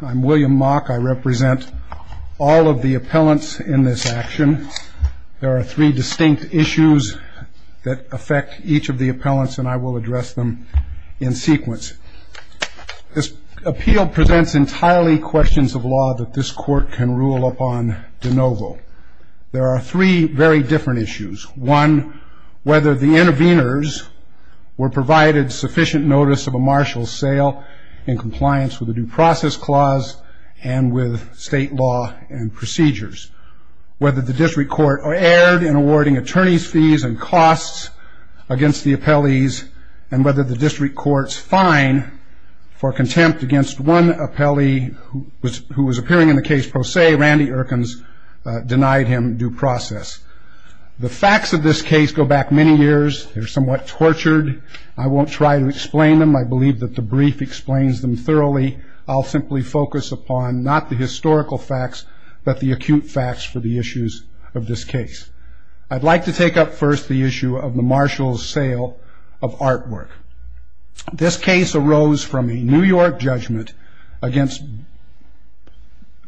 I'm William Mock. I represent all of the appellants in this action. There are three distinct issues that affect each of the appellants and I will address them in sequence. This appeal presents entirely questions of law that this court can rule upon de novo. There are three very different issues. One, whether the interveners were provided sufficient notice of a martial sale in compliance with the due process clause and with state law and procedures. Whether the district court erred in awarding attorney's fees and costs against the appellees and whether the district court's fine for contempt against one appellee who was appearing in the case pro se, Randy Erkins, denied him due process. The facts of this case go back many years. They're somewhat tortured. I won't try to explain them. I believe that the brief explains them thoroughly. I'll simply focus upon not the historical facts, but the acute facts for the issues of this case. I'd like to take up first the issue of the Marshall's sale of artwork. This case arose from a New York judgment against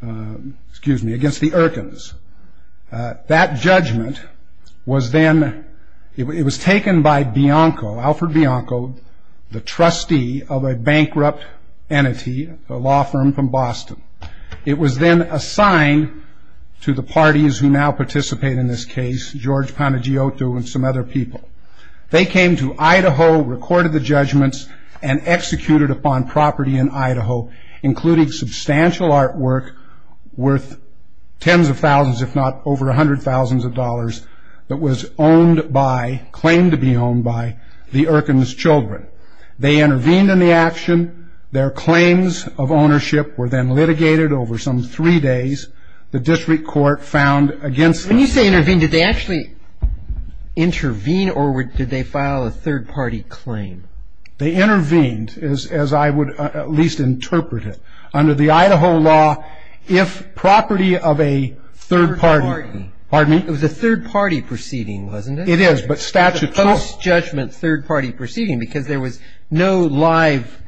the Erkins. That judgment was then, it was taken by Bianco, Alfred Bianco, the trustee of a bankrupt entity, a law firm from Boston. It was then assigned to the parties who now participate in this case, George Panagiotou and some other people. They came to Idaho, recorded the judgments, and executed upon property in Idaho, including substantial artwork worth tens of thousands, if not over a hundred thousands of dollars, that was owned by, claimed to be owned by, the Erkins' children. They intervened in the action. Their claims of ownership were then litigated over some three days. The district court found against them. When you say intervened, did they actually intervene or did they file a third party claim? They intervened, as I would at least interpret it. Under the Idaho law, if property of a third party. Third party. Pardon me? It was a third party proceeding, wasn't it? It is, but statute calls. third party proceeding because there was no live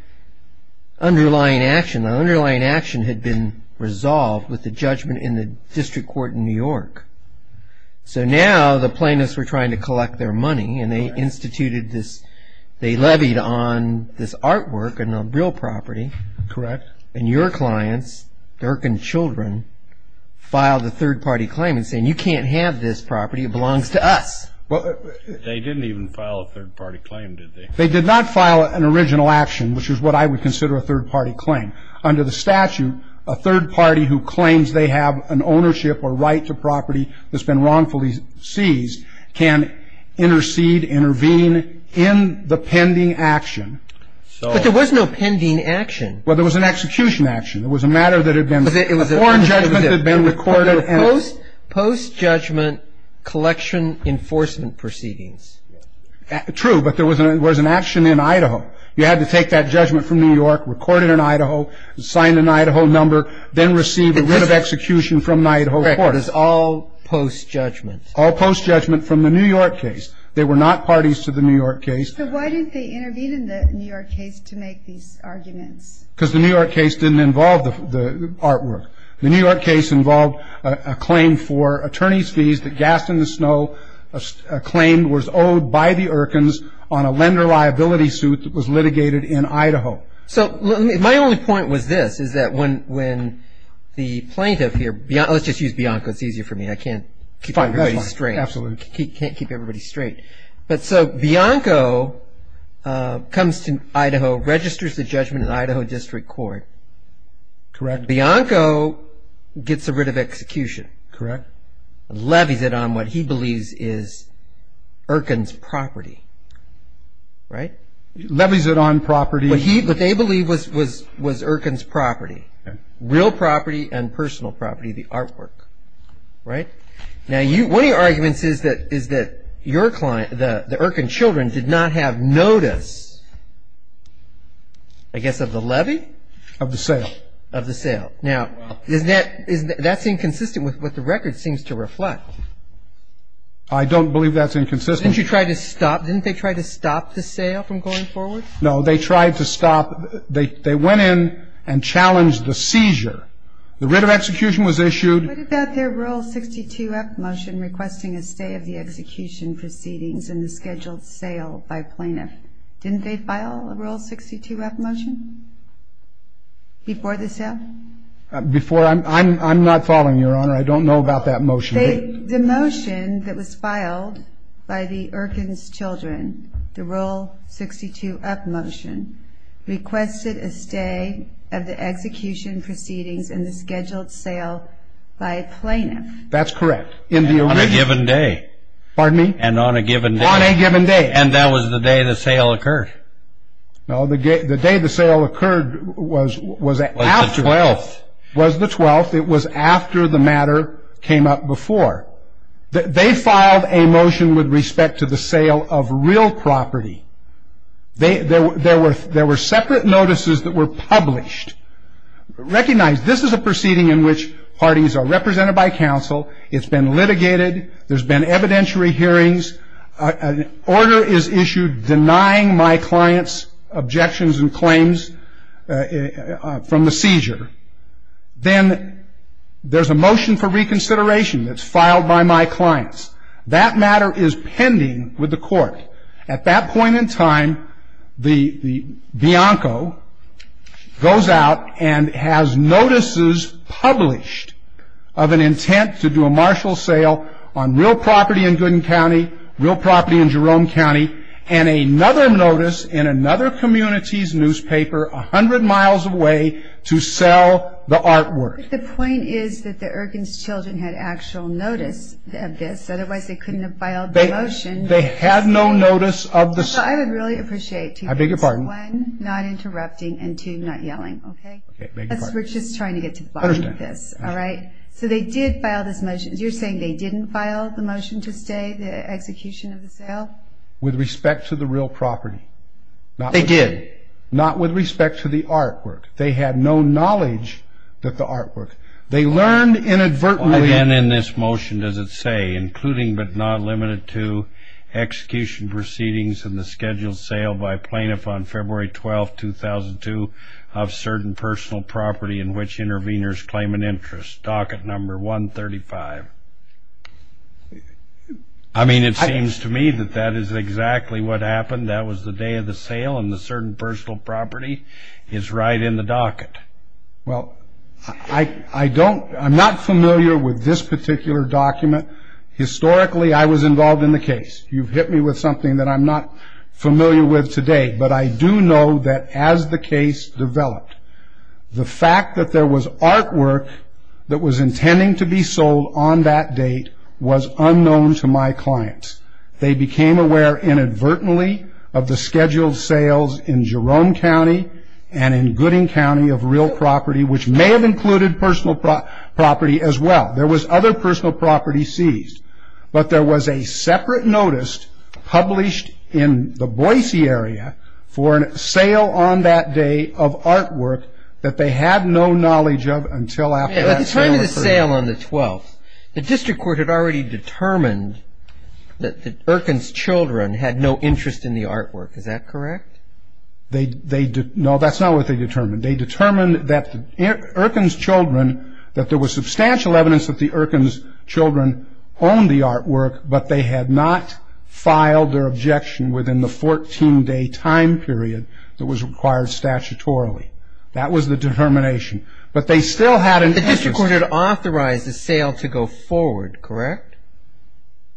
underlying action. The underlying action had been resolved with the judgment in the district court in New York. So now the plaintiffs were trying to collect their money and they instituted this, they levied on this artwork and on real property. Correct. And your clients, the Erkins' children, filed a third party claim and said, you can't have this property, it belongs to us. They didn't even file a third party claim, did they? They did not file an original action, which is what I would consider a third party claim. Under the statute, a third party who claims they have an ownership or right to property that's been wrongfully seized can intercede, intervene in the pending action. But there was no pending action. Well, there was an execution action. It was a matter that had been, a foreign judgment that had been recorded. Post-judgment collection enforcement proceedings. True, but there was an action in Idaho. You had to take that judgment from New York, record it in Idaho, sign an Idaho number, then receive a writ of execution from an Idaho court. Correct. It was all post-judgment. All post-judgment from the New York case. They were not parties to the New York case. So why didn't they intervene in the New York case to make these arguments? Because the New York case didn't involve the artwork. The New York case involved a claim for attorney's fees that Gaston Snow claimed was owed by the Irkins on a lender liability suit that was litigated in Idaho. So my only point was this, is that when the plaintiff here, let's just use Bianco. It's easier for me. I can't keep everybody straight. Absolutely. Can't keep everybody straight. But so Bianco comes to Idaho, registers the judgment in Idaho District Court. Correct. Bianco gets a writ of execution. Correct. Levies it on what he believes is Irkin's property. Right? Levies it on property. What they believe was Irkin's property. Real property and personal property, the artwork. Right? Now, one of your arguments is that your client, the Irkin children, did not have notice, I guess, of the levy? Of the sale. Of the sale. Now, that's inconsistent with what the record seems to reflect. I don't believe that's inconsistent. Didn't you try to stop? Didn't they try to stop the sale from going forward? No. They tried to stop. They went in and challenged the seizure. The writ of execution was issued. What about their Rule 62-F motion requesting a stay of the execution proceedings and the scheduled sale by plaintiff? Didn't they file a Rule 62-F motion? Before the sale? Before? I'm not following, Your Honor. I don't know about that motion. The motion that was filed by the Irkin's children, the Rule 62-F motion, requested a stay of the execution proceedings and the scheduled sale by plaintiff. That's correct. On a given day. Pardon me? And on a given day. On a given day. And that was the day the sale occurred. No, the day the sale occurred was after. It was the 12th. It was the 12th. It was after the matter came up before. They filed a motion with respect to the sale of real property. There were separate notices that were published. Recognize this is a proceeding in which parties are represented by counsel. It's been litigated. There's been evidentiary hearings. An order is issued denying my client's objections and claims from the seizure. Then there's a motion for reconsideration that's filed by my clients. That matter is pending with the court. At that point in time, Bianco goes out and has notices published of an intent to do a martial sale on real property in Gooden County, real property in Jerome County, and another notice in another community's newspaper 100 miles away to sell the artwork. But the point is that the Erkins children had actual notice of this. Otherwise, they couldn't have filed the motion. They had no notice of the sale. I would really appreciate two things. I beg your pardon? One, not interrupting, and two, not yelling, okay? Okay, I beg your pardon. We're just trying to get to the bottom of this. I understand. All right? So they did file this motion. You're saying they didn't file the motion to stay, the execution of the sale? With respect to the real property. They did. Not with respect to the artwork. They had no knowledge of the artwork. They learned inadvertently. And in this motion, does it say, including but not limited to execution proceedings in the scheduled sale by plaintiff on February 12, 2002, of certain personal property in which interveners claim an interest? Docket number 135. I mean, it seems to me that that is exactly what happened. That was the day of the sale, and the certain personal property is right in the docket. Well, I'm not familiar with this particular document. Historically, I was involved in the case. You've hit me with something that I'm not familiar with today. But I do know that as the case developed, the fact that there was artwork that was intending to be sold on that date was unknown to my clients. They became aware inadvertently of the scheduled sales in Jerome County and in Gooding County of real property, which may have included personal property as well. There was other personal property seized. But there was a separate notice published in the Boise area for a sale on that day of artwork that they had no knowledge of until after that sale occurred. At the time of the sale on the 12th, the district court had already determined that Erkin's children had no interest in the artwork. Is that correct? No, that's not what they determined. They determined that Erkin's children, that there was substantial evidence that the Erkin's children owned the artwork, but they had not filed their objection within the 14-day time period that was required statutorily. That was the determination. But they still had an interest. The district court had authorized the sale to go forward, correct?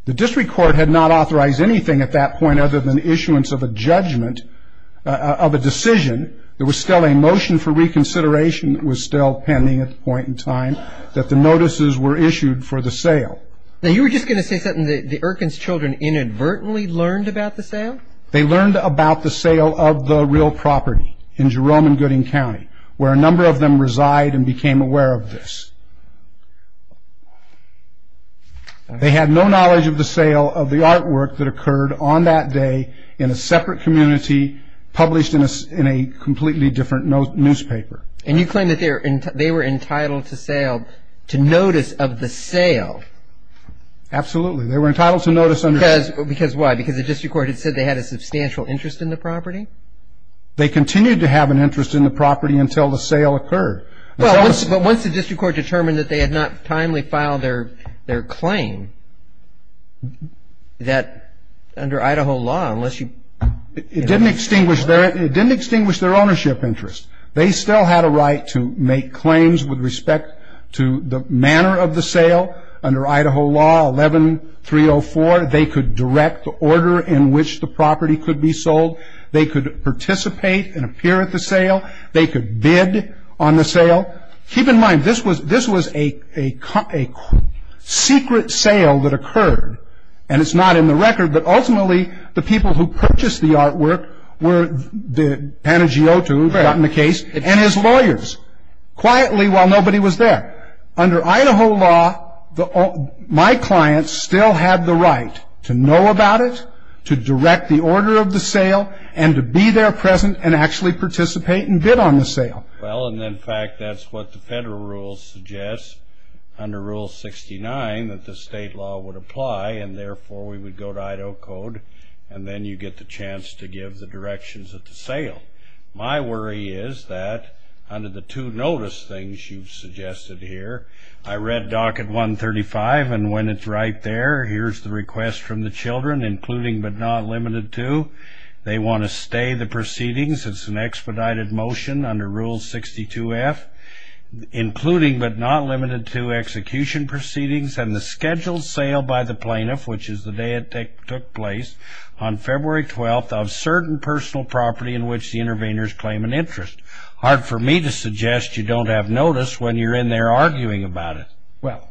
The district court had not authorized anything at that point other than issuance of a judgment, of a decision. There was still a motion for reconsideration that was still pending at the point in time that the notices were issued for the sale. Now, you were just going to say something that the Erkin's children inadvertently learned about the sale? They learned about the sale of the real property in Jerome and Gooding County, where a number of them reside and became aware of this. They had no knowledge of the sale of the artwork that occurred on that day in a separate community that would be published in a completely different newspaper. And you claim that they were entitled to notice of the sale? Absolutely. They were entitled to notice. Because why? Because the district court had said they had a substantial interest in the property? They continued to have an interest in the property until the sale occurred. But once the district court determined that they had not timely filed their claim, that under Idaho law, unless you ---- It didn't extinguish their ownership interest. They still had a right to make claims with respect to the manner of the sale. Under Idaho law 11304, they could direct the order in which the property could be sold. They could participate and appear at the sale. They could bid on the sale. Keep in mind, this was a secret sale that occurred. And it's not in the record. But ultimately, the people who purchased the artwork were the Panagiotou who had gotten the case and his lawyers, quietly while nobody was there. Under Idaho law, my clients still had the right to know about it, to direct the order of the sale, and to be there present and actually participate and bid on the sale. Well, and in fact, that's what the federal rules suggest. Under Rule 69, that the state law would apply, and therefore, we would go to Idaho code, and then you get the chance to give the directions of the sale. My worry is that under the two notice things you've suggested here, I read Docket 135, and when it's right there, here's the request from the children, including but not limited to. They want to stay the proceedings. It's an expedited motion under Rule 62F, including but not limited to execution proceedings and the scheduled sale by the plaintiff, which is the day it took place, on February 12th of certain personal property in which the interveners claim an interest. Hard for me to suggest you don't have notice when you're in there arguing about it. Well,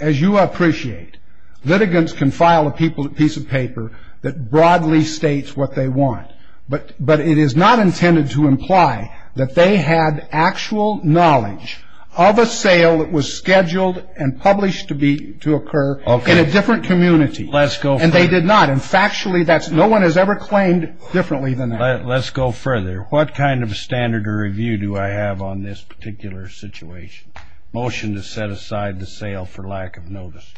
as you appreciate, litigants can file a piece of paper that broadly states what they want. But it is not intended to imply that they had actual knowledge of a sale that was scheduled and published to occur in a different community. Let's go further. And they did not. And factually, no one has ever claimed differently than that. Let's go further. What kind of standard or review do I have on this particular situation? Motion to set aside the sale for lack of notice.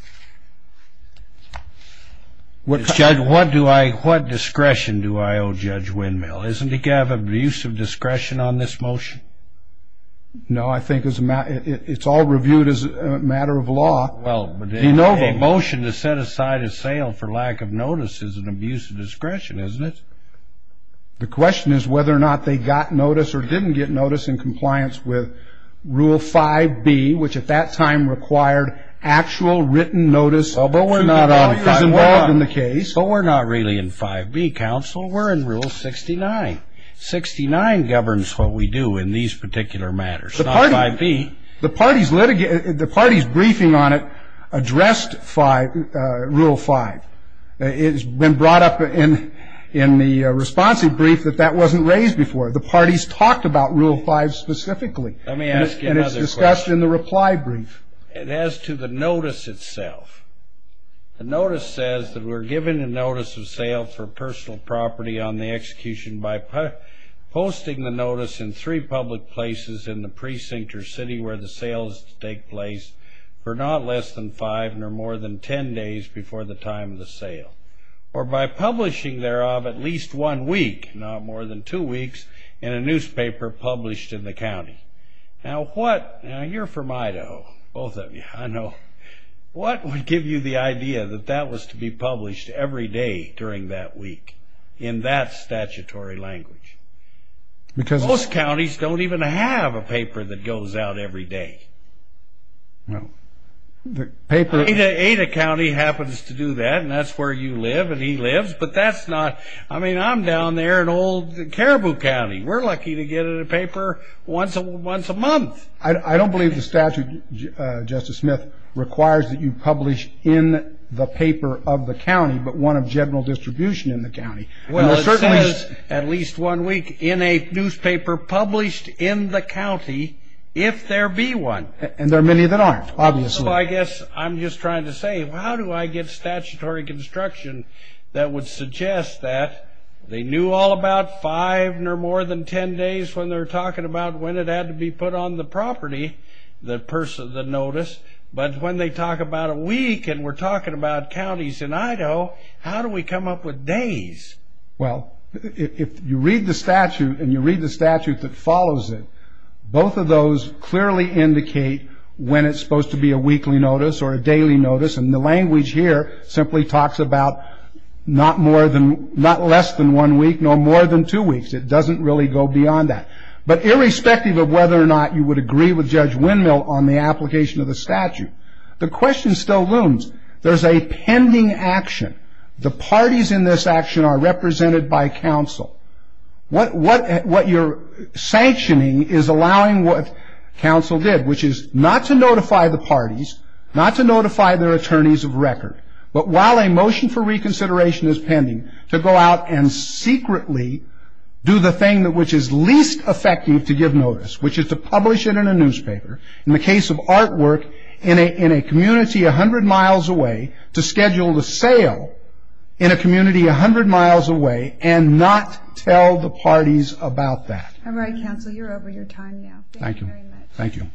Judge, what discretion do I owe Judge Windmill? Isn't he to have abuse of discretion on this motion? No, I think it's all reviewed as a matter of law. Well, but a motion to set aside a sale for lack of notice is an abuse of discretion, isn't it? The question is whether or not they got notice or didn't get notice in compliance with Rule 5B, which at that time required actual written notice, although we're not always involved in the case. But we're not really in 5B, counsel. We're in Rule 69. 69 governs what we do in these particular matters, not 5B. The party's briefing on it addressed Rule 5. It's been brought up in the responsive brief that that wasn't raised before. The party's talked about Rule 5 specifically. Let me ask you another question. And it's discussed in the reply brief. As to the notice itself, the notice says that we're given a notice of sale for personal property on the execution by posting the notice in three public places in the precinct or city where the sale is to take place for not less than five nor more than ten days before the time of the sale, or by publishing thereof at least one week, not more than two weeks, in a newspaper published in the county. Now, you're from Idaho, both of you, I know. What would give you the idea that that was to be published every day during that week in that statutory language? Because most counties don't even have a paper that goes out every day. No. Ada County happens to do that, and that's where you live and he lives. But that's not – I mean, I'm down there in old Caribou County. We're lucky to get a paper once a month. I don't believe the statute, Justice Smith, requires that you publish in the paper of the county, but one of general distribution in the county. Well, it says at least one week in a newspaper published in the county if there be one. And there are many that aren't, obviously. I guess I'm just trying to say how do I get statutory construction that would suggest that they knew all about five nor more than ten days when they're talking about when it had to be put on the property, the person, the notice, but when they talk about a week and we're talking about counties in Idaho, how do we come up with days? Well, if you read the statute and you read the statute that follows it, both of those clearly indicate when it's supposed to be a weekly notice or a daily notice, and the language here simply talks about not less than one week nor more than two weeks. It doesn't really go beyond that. But irrespective of whether or not you would agree with Judge Windmill on the application of the statute, the question still looms. There's a pending action. The parties in this action are represented by counsel. What you're sanctioning is allowing what counsel did, which is not to notify the parties, not to notify their attorneys of record, but while a motion for reconsideration is pending, to go out and secretly do the thing which is least effective to give notice, which is to publish it in a newspaper, in the case of artwork, in a community 100 miles away, to schedule the sale in a community 100 miles away and not tell the parties about that. All right, counsel, you're over your time now. Thank you. Thank you very much. Thank you.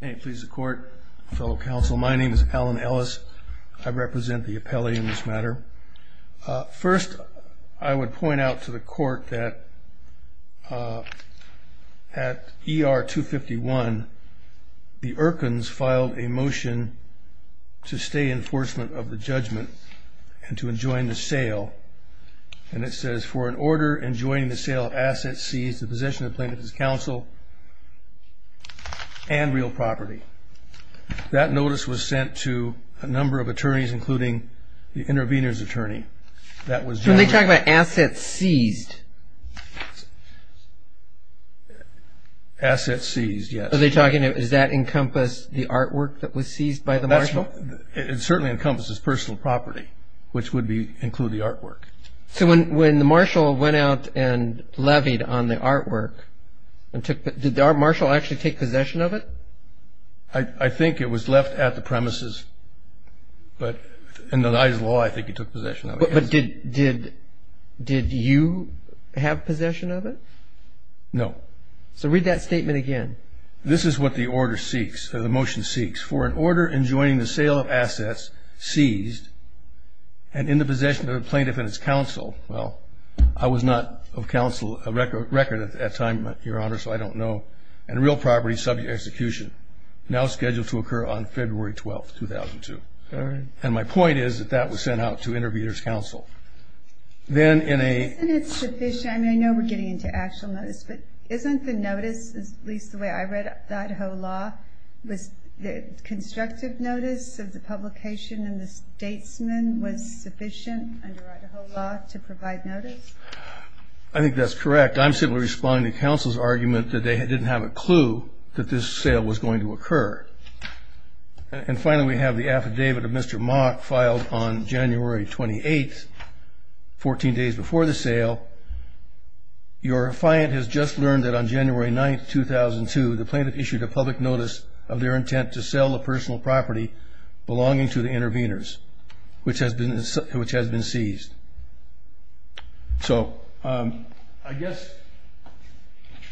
May it please the Court, fellow counsel. My name is Alan Ellis. I represent the appellee in this matter. First, I would point out to the Court that at ER 251, the Irkins filed a motion to stay enforcement of the judgment and to enjoin the sale. And it says, for an order enjoining the sale of assets seized, the possession of the plaintiff's counsel and real property. That notice was sent to a number of attorneys, including the intervener's attorney. When they talk about assets seized? Assets seized, yes. Are they talking, does that encompass the artwork that was seized by the marshal? It certainly encompasses personal property, which would include the artwork. So when the marshal went out and levied on the artwork, did the marshal actually take possession of it? I think it was left at the premises. Under the law, I think he took possession of it. But did you have possession of it? No. So read that statement again. This is what the order seeks, or the motion seeks. For an order enjoining the sale of assets seized and in the possession of the plaintiff and his counsel. Well, I was not of counsel a record at that time, Your Honor, so I don't know. And real property subject to execution. Now scheduled to occur on February 12, 2002. And my point is that that was sent out to intervener's counsel. Then in a – Isn't it sufficient? I mean, I know we're getting into actual notice, but isn't the notice, at least the way I read Idaho law, was the constructive notice of the publication and the statesman was sufficient under Idaho law to provide notice? I think that's correct. I'm simply responding to counsel's argument that they didn't have a clue that this sale was going to occur. And finally, we have the affidavit of Mr. Mock filed on January 28th, 14 days before the sale. Your client has just learned that on January 9th, 2002, the plaintiff issued a public notice of their intent to sell a personal property belonging to the interveners, which has been seized. So I guess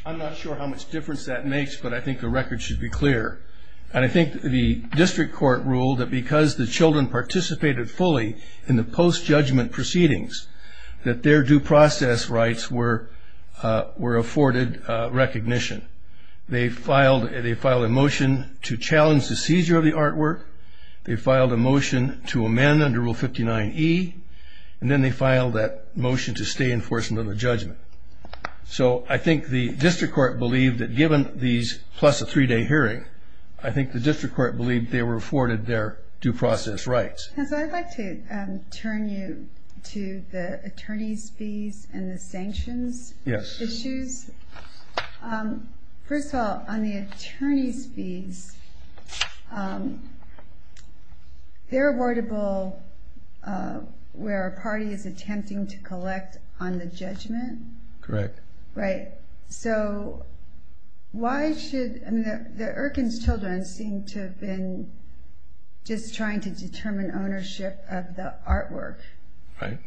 I'm not sure how much difference that makes, but I think the record should be clear. And I think the district court ruled that because the children participated fully in the post-judgment proceedings, that their due process rights were afforded recognition. They filed a motion to challenge the seizure of the artwork. They filed a motion to amend under Rule 59E. And then they filed that motion to stay in enforcement of the judgment. So I think the district court believed that given these plus a three-day hearing, I think the district court believed they were afforded their due process rights. Hans, I'd like to turn you to the attorney's fees and the sanctions issues. Yes. First of all, on the attorney's fees, they're awardable where a party is attempting to collect on the judgment. Correct. Right. So why should the Erkins children seem to have been just trying to determine ownership of the artwork? Right.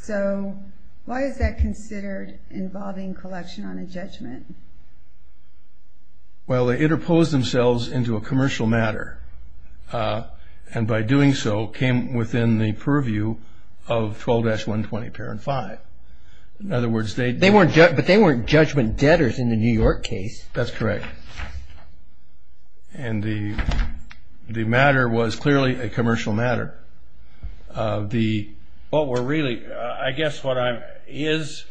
So why is that considered involving collection on a judgment? Well, they interposed themselves into a commercial matter, and by doing so came within the purview of 12-120 Parent 5. But they weren't judgment debtors in the New York case. That's correct. And the matter was clearly a commercial matter. I guess what is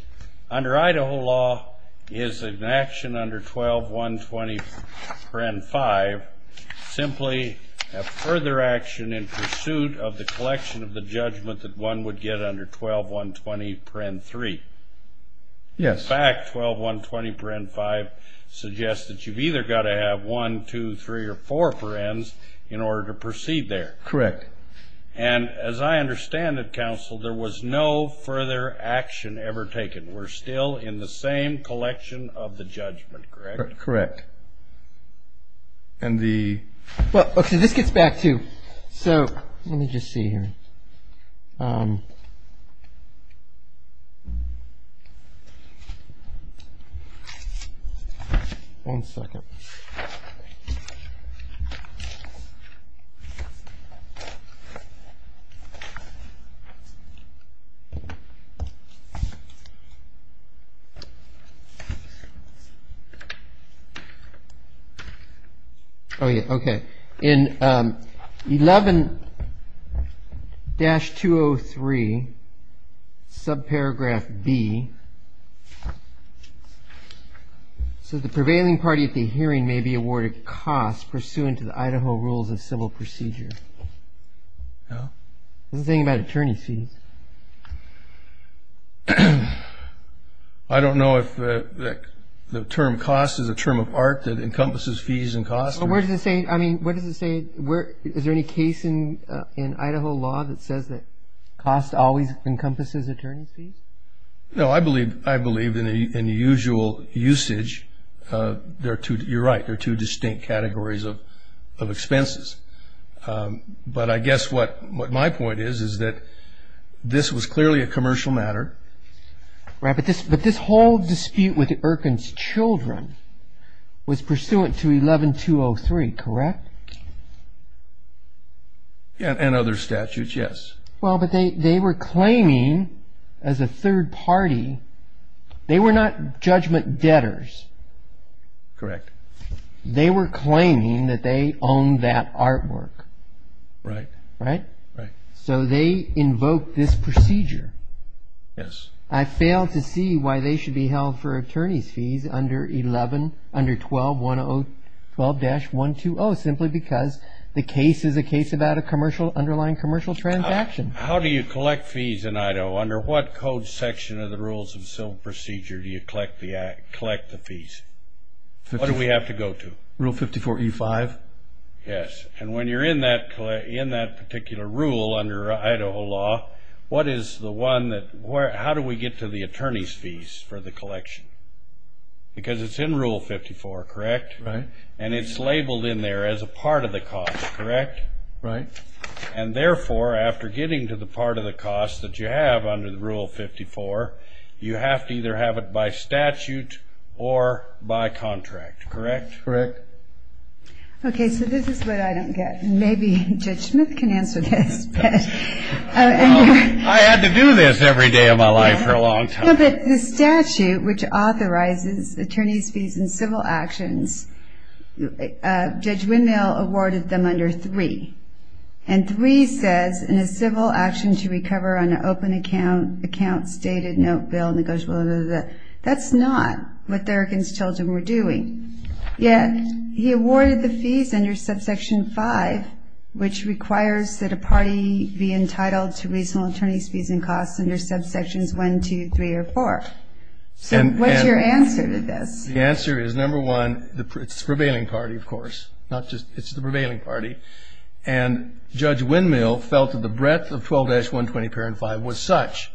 under Idaho law is an action under 12-120 Parent 5 simply a further action in pursuit of the collection of the judgment that one would get under 12-120 Parent 3. Yes. In fact, 12-120 Parent 5 suggests that you've either got to have 1, 2, 3, or 4 parents in order to proceed there. Correct. And as I understand it, counsel, there was no further action ever taken. We're still in the same collection of the judgment, correct? Correct. And the ---- Okay, this gets back to you. So let me just see here. One second. Oh, yeah, okay. In 11-203, subparagraph B, it says, the prevailing party at the hearing may be awarded costs pursuant to the Idaho rules of civil procedure. What's the thing about attorney fees? I don't know if the term cost is a term of art that encompasses fees and costs. Well, where does it say, I mean, where does it say, is there any case in Idaho law that says that cost always encompasses attorney fees? No, I believe in the usual usage, you're right, there are two distinct categories of expenses. But I guess what my point is is that this was clearly a commercial matter. But this whole dispute with Erkin's children was pursuant to 11-203, correct? And other statutes, yes. Well, but they were claiming as a third party, they were not judgment debtors. Correct. They were claiming that they owned that artwork. Right. Right? Right. So they invoked this procedure. Yes. I fail to see why they should be held for attorney's fees under 12-120 simply because the case is a case about an underlying commercial transaction. How do you collect fees in Idaho? Under what code section of the rules of civil procedure do you collect the fees? What do we have to go to? Rule 54E5. Yes. And when you're in that particular rule under Idaho law, what is the one that – how do we get to the attorney's fees for the collection? Because it's in Rule 54, correct? Right. And it's labeled in there as a part of the cost, correct? Right. And therefore, after getting to the part of the cost that you have under Rule 54, you have to either have it by statute or by contract, correct? Correct. Okay. So this is what I don't get. Maybe Judge Smith can answer this. I had to do this every day of my life for a long time. No, but the statute which authorizes attorney's fees in civil actions, Judge Windmill awarded them under 3. And 3 says, in a civil action to recover on an open account, account stated, note bill, negotiable, blah, blah, blah. That's not what Thurgood's children were doing. Yet he awarded the fees under subsection 5, which requires that a party be entitled to reasonable attorney's fees and costs under subsections 1, 2, 3, or 4. So what's your answer to this? The answer is, number one, it's the prevailing party, of course. Not just – it's the prevailing party. And Judge Windmill felt that the breadth of 12-120.5 was such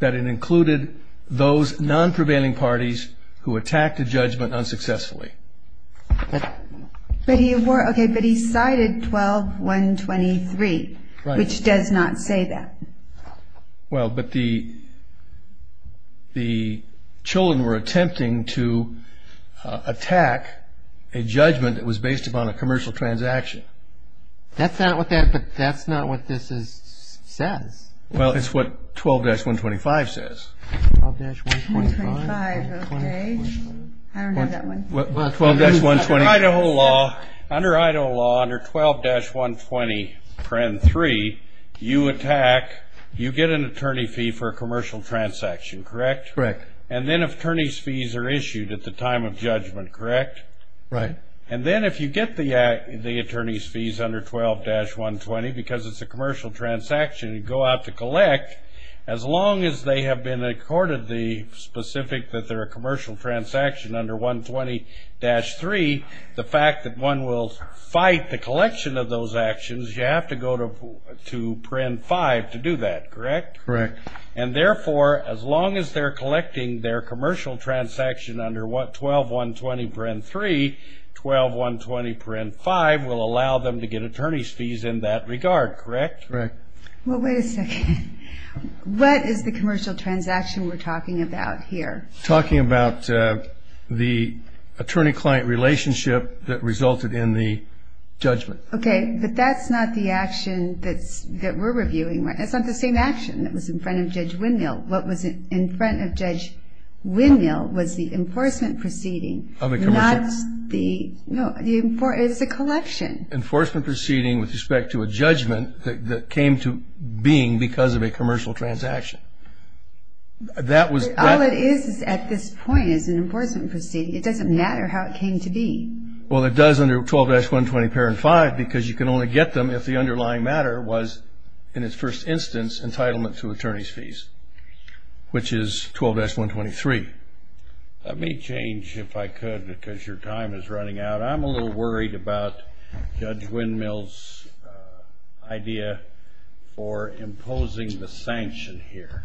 that it included those non-prevailing parties who attacked a judgment unsuccessfully. But he cited 12-123, which does not say that. Well, but the children were attempting to attack a judgment that was based upon a commercial transaction. That's not what that – but that's not what this says. Well, it's what 12-125 says. 12-125, okay. I don't have that one. 12-120. Under Idaho law, under 12-120.3, you attack – you get an attorney fee for a commercial transaction, correct? Correct. And then attorney's fees are issued at the time of judgment, correct? Right. And then if you get the attorney's fees under 12-120, because it's a commercial transaction you go out to collect, as long as they have been accorded the specific that they're a commercial transaction under 120-3, the fact that one will fight the collection of those actions, you have to go to print 5 to do that, correct? Correct. And therefore, as long as they're collecting their commercial transaction under 12-120.3, 12-120.5 will allow them to get attorney's fees in that regard, correct? Correct. Well, wait a second. What is the commercial transaction we're talking about here? We're talking about the attorney-client relationship that resulted in the judgment. Okay, but that's not the action that we're reviewing. That's not the same action that was in front of Judge Windmill. What was in front of Judge Windmill was the enforcement proceeding. No, it's the collection. Enforcement proceeding with respect to a judgment that came to being because of a commercial transaction. All it is at this point is an enforcement proceeding. It doesn't matter how it came to be. Well, it does under 12-120.5 because you can only get them if the underlying matter was, in its first instance, entitlement to attorney's fees, which is 12-123. Let me change, if I could, because your time is running out. I'm a little worried about Judge Windmill's idea for imposing the sanction here.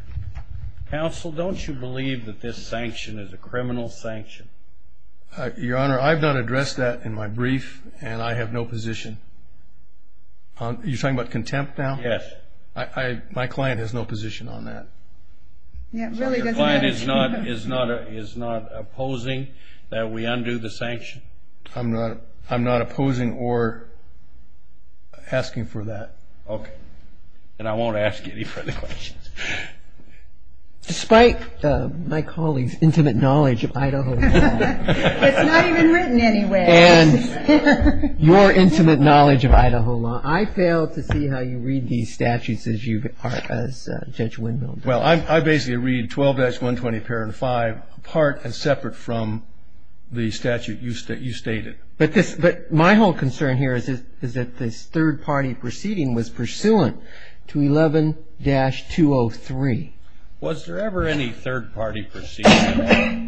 Counsel, don't you believe that this sanction is a criminal sanction? Your Honor, I've not addressed that in my brief, and I have no position. You're talking about contempt now? Yes. My client has no position on that. So your client is not opposing that we undo the sanction? I'm not opposing or asking for that. Okay. Then I won't ask any further questions. Despite my colleague's intimate knowledge of Idaho law. It's not even written anywhere. And your intimate knowledge of Idaho law, I fail to see how you read these statutes as you are as Judge Windmill does. Well, I basically read 12-120.5 apart and separate from the statute you stated. But my whole concern here is that this third-party proceeding was pursuant to 11-203. Was there ever any third-party proceeding?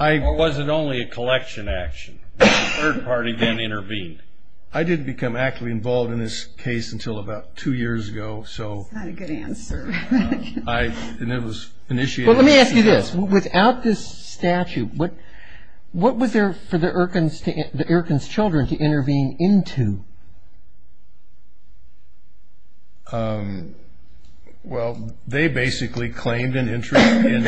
Or was it only a collection action? Was the third party then intervened? I didn't become actively involved in this case until about two years ago. That's not a good answer. Let me ask you this. Without this statute, what was there for the Irkins children to intervene into? Well, they basically claimed an interest in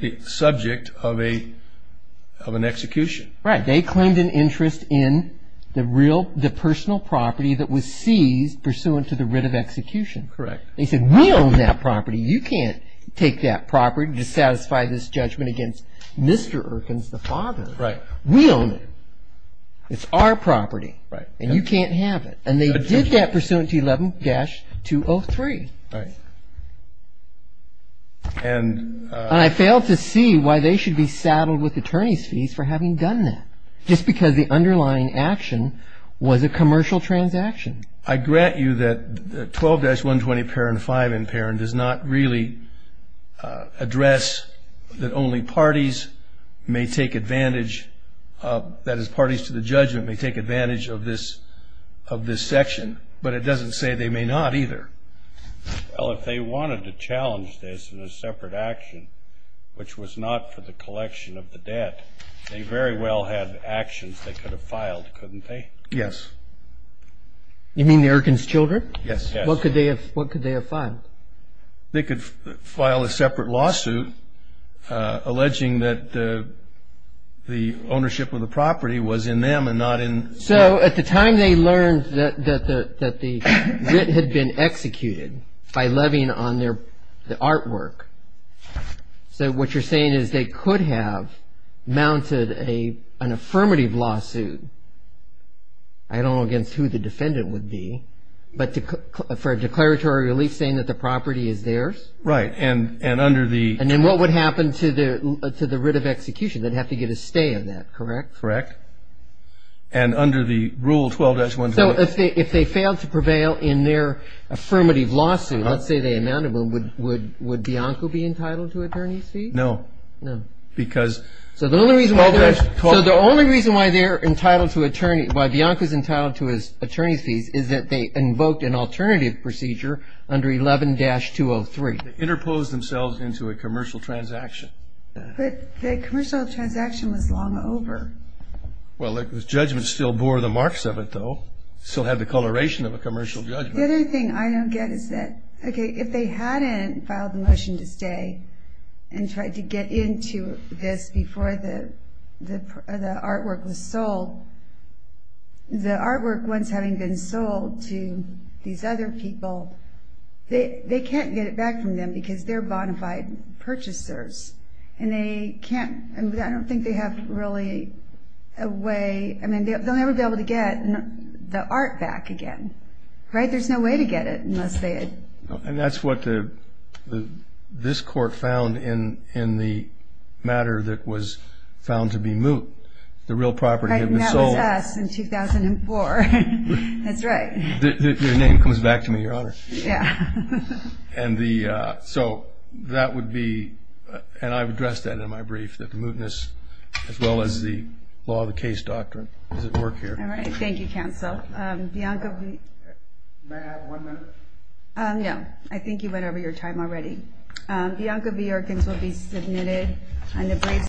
the subject of an execution. Right. They claimed an interest in the personal property that was seized pursuant to the writ of execution. Correct. They said, we own that property. You can't take that property to satisfy this judgment against Mr. Irkins, the father. Right. We own it. It's our property. Right. And you can't have it. And they did that pursuant to 11-203. Right. And I failed to see why they should be saddled with attorney's fees for having done that, just because the underlying action was a commercial transaction. I grant you that 12-120, parent five in parent, does not really address that only parties may take advantage, that is parties to the judgment may take advantage of this section. But it doesn't say they may not either. Well, if they wanted to challenge this in a separate action, which was not for the collection of the debt, they very well had actions they could have filed, couldn't they? Yes. You mean the Irkins children? Yes. What could they have filed? They could file a separate lawsuit alleging that the ownership of the property was in them and not in them. So at the time they learned that the writ had been executed by levying on the artwork, so what you're saying is they could have mounted an affirmative lawsuit, I don't know against who the defendant would be, but for a declaratory relief saying that the property is theirs? Right. And under the – And then what would happen to the writ of execution? They'd have to get a stay of that, correct? Correct. And under the rule 12-120 – So if they failed to prevail in their affirmative lawsuit, let's say they mounted one, would Bianco be entitled to attorney's fees? No. No. Because – So the only reason why they're entitled to attorney – why Bianco's entitled to his attorney's fees is that they invoked an alternative procedure under 11-203. They interposed themselves into a commercial transaction. But the commercial transaction was long over. Well, the judgment still bore the marks of it, though. It still had the coloration of a commercial judgment. The other thing I don't get is that, okay, if they hadn't filed the motion to stay and tried to get into this before the artwork was sold, the artwork once having been sold to these other people, they can't get it back from them because they're bonafide purchasers, and I don't think they have really a way – I mean, they'll never be able to get the art back again, right? There's no way to get it unless they had – And that's what this court found in the matter that was found to be moot. The real property had been sold. Right, and that was us in 2004. That's right. Your name comes back to me, Your Honor. Yeah. And so that would be – and I've addressed that in my brief, that the mootness as well as the law of the case doctrine doesn't work here. All right. Thank you, counsel. Bianca – May I have one minute? No. I think you went over your time already. Bianca B. Erkins will be submitted on the briefs.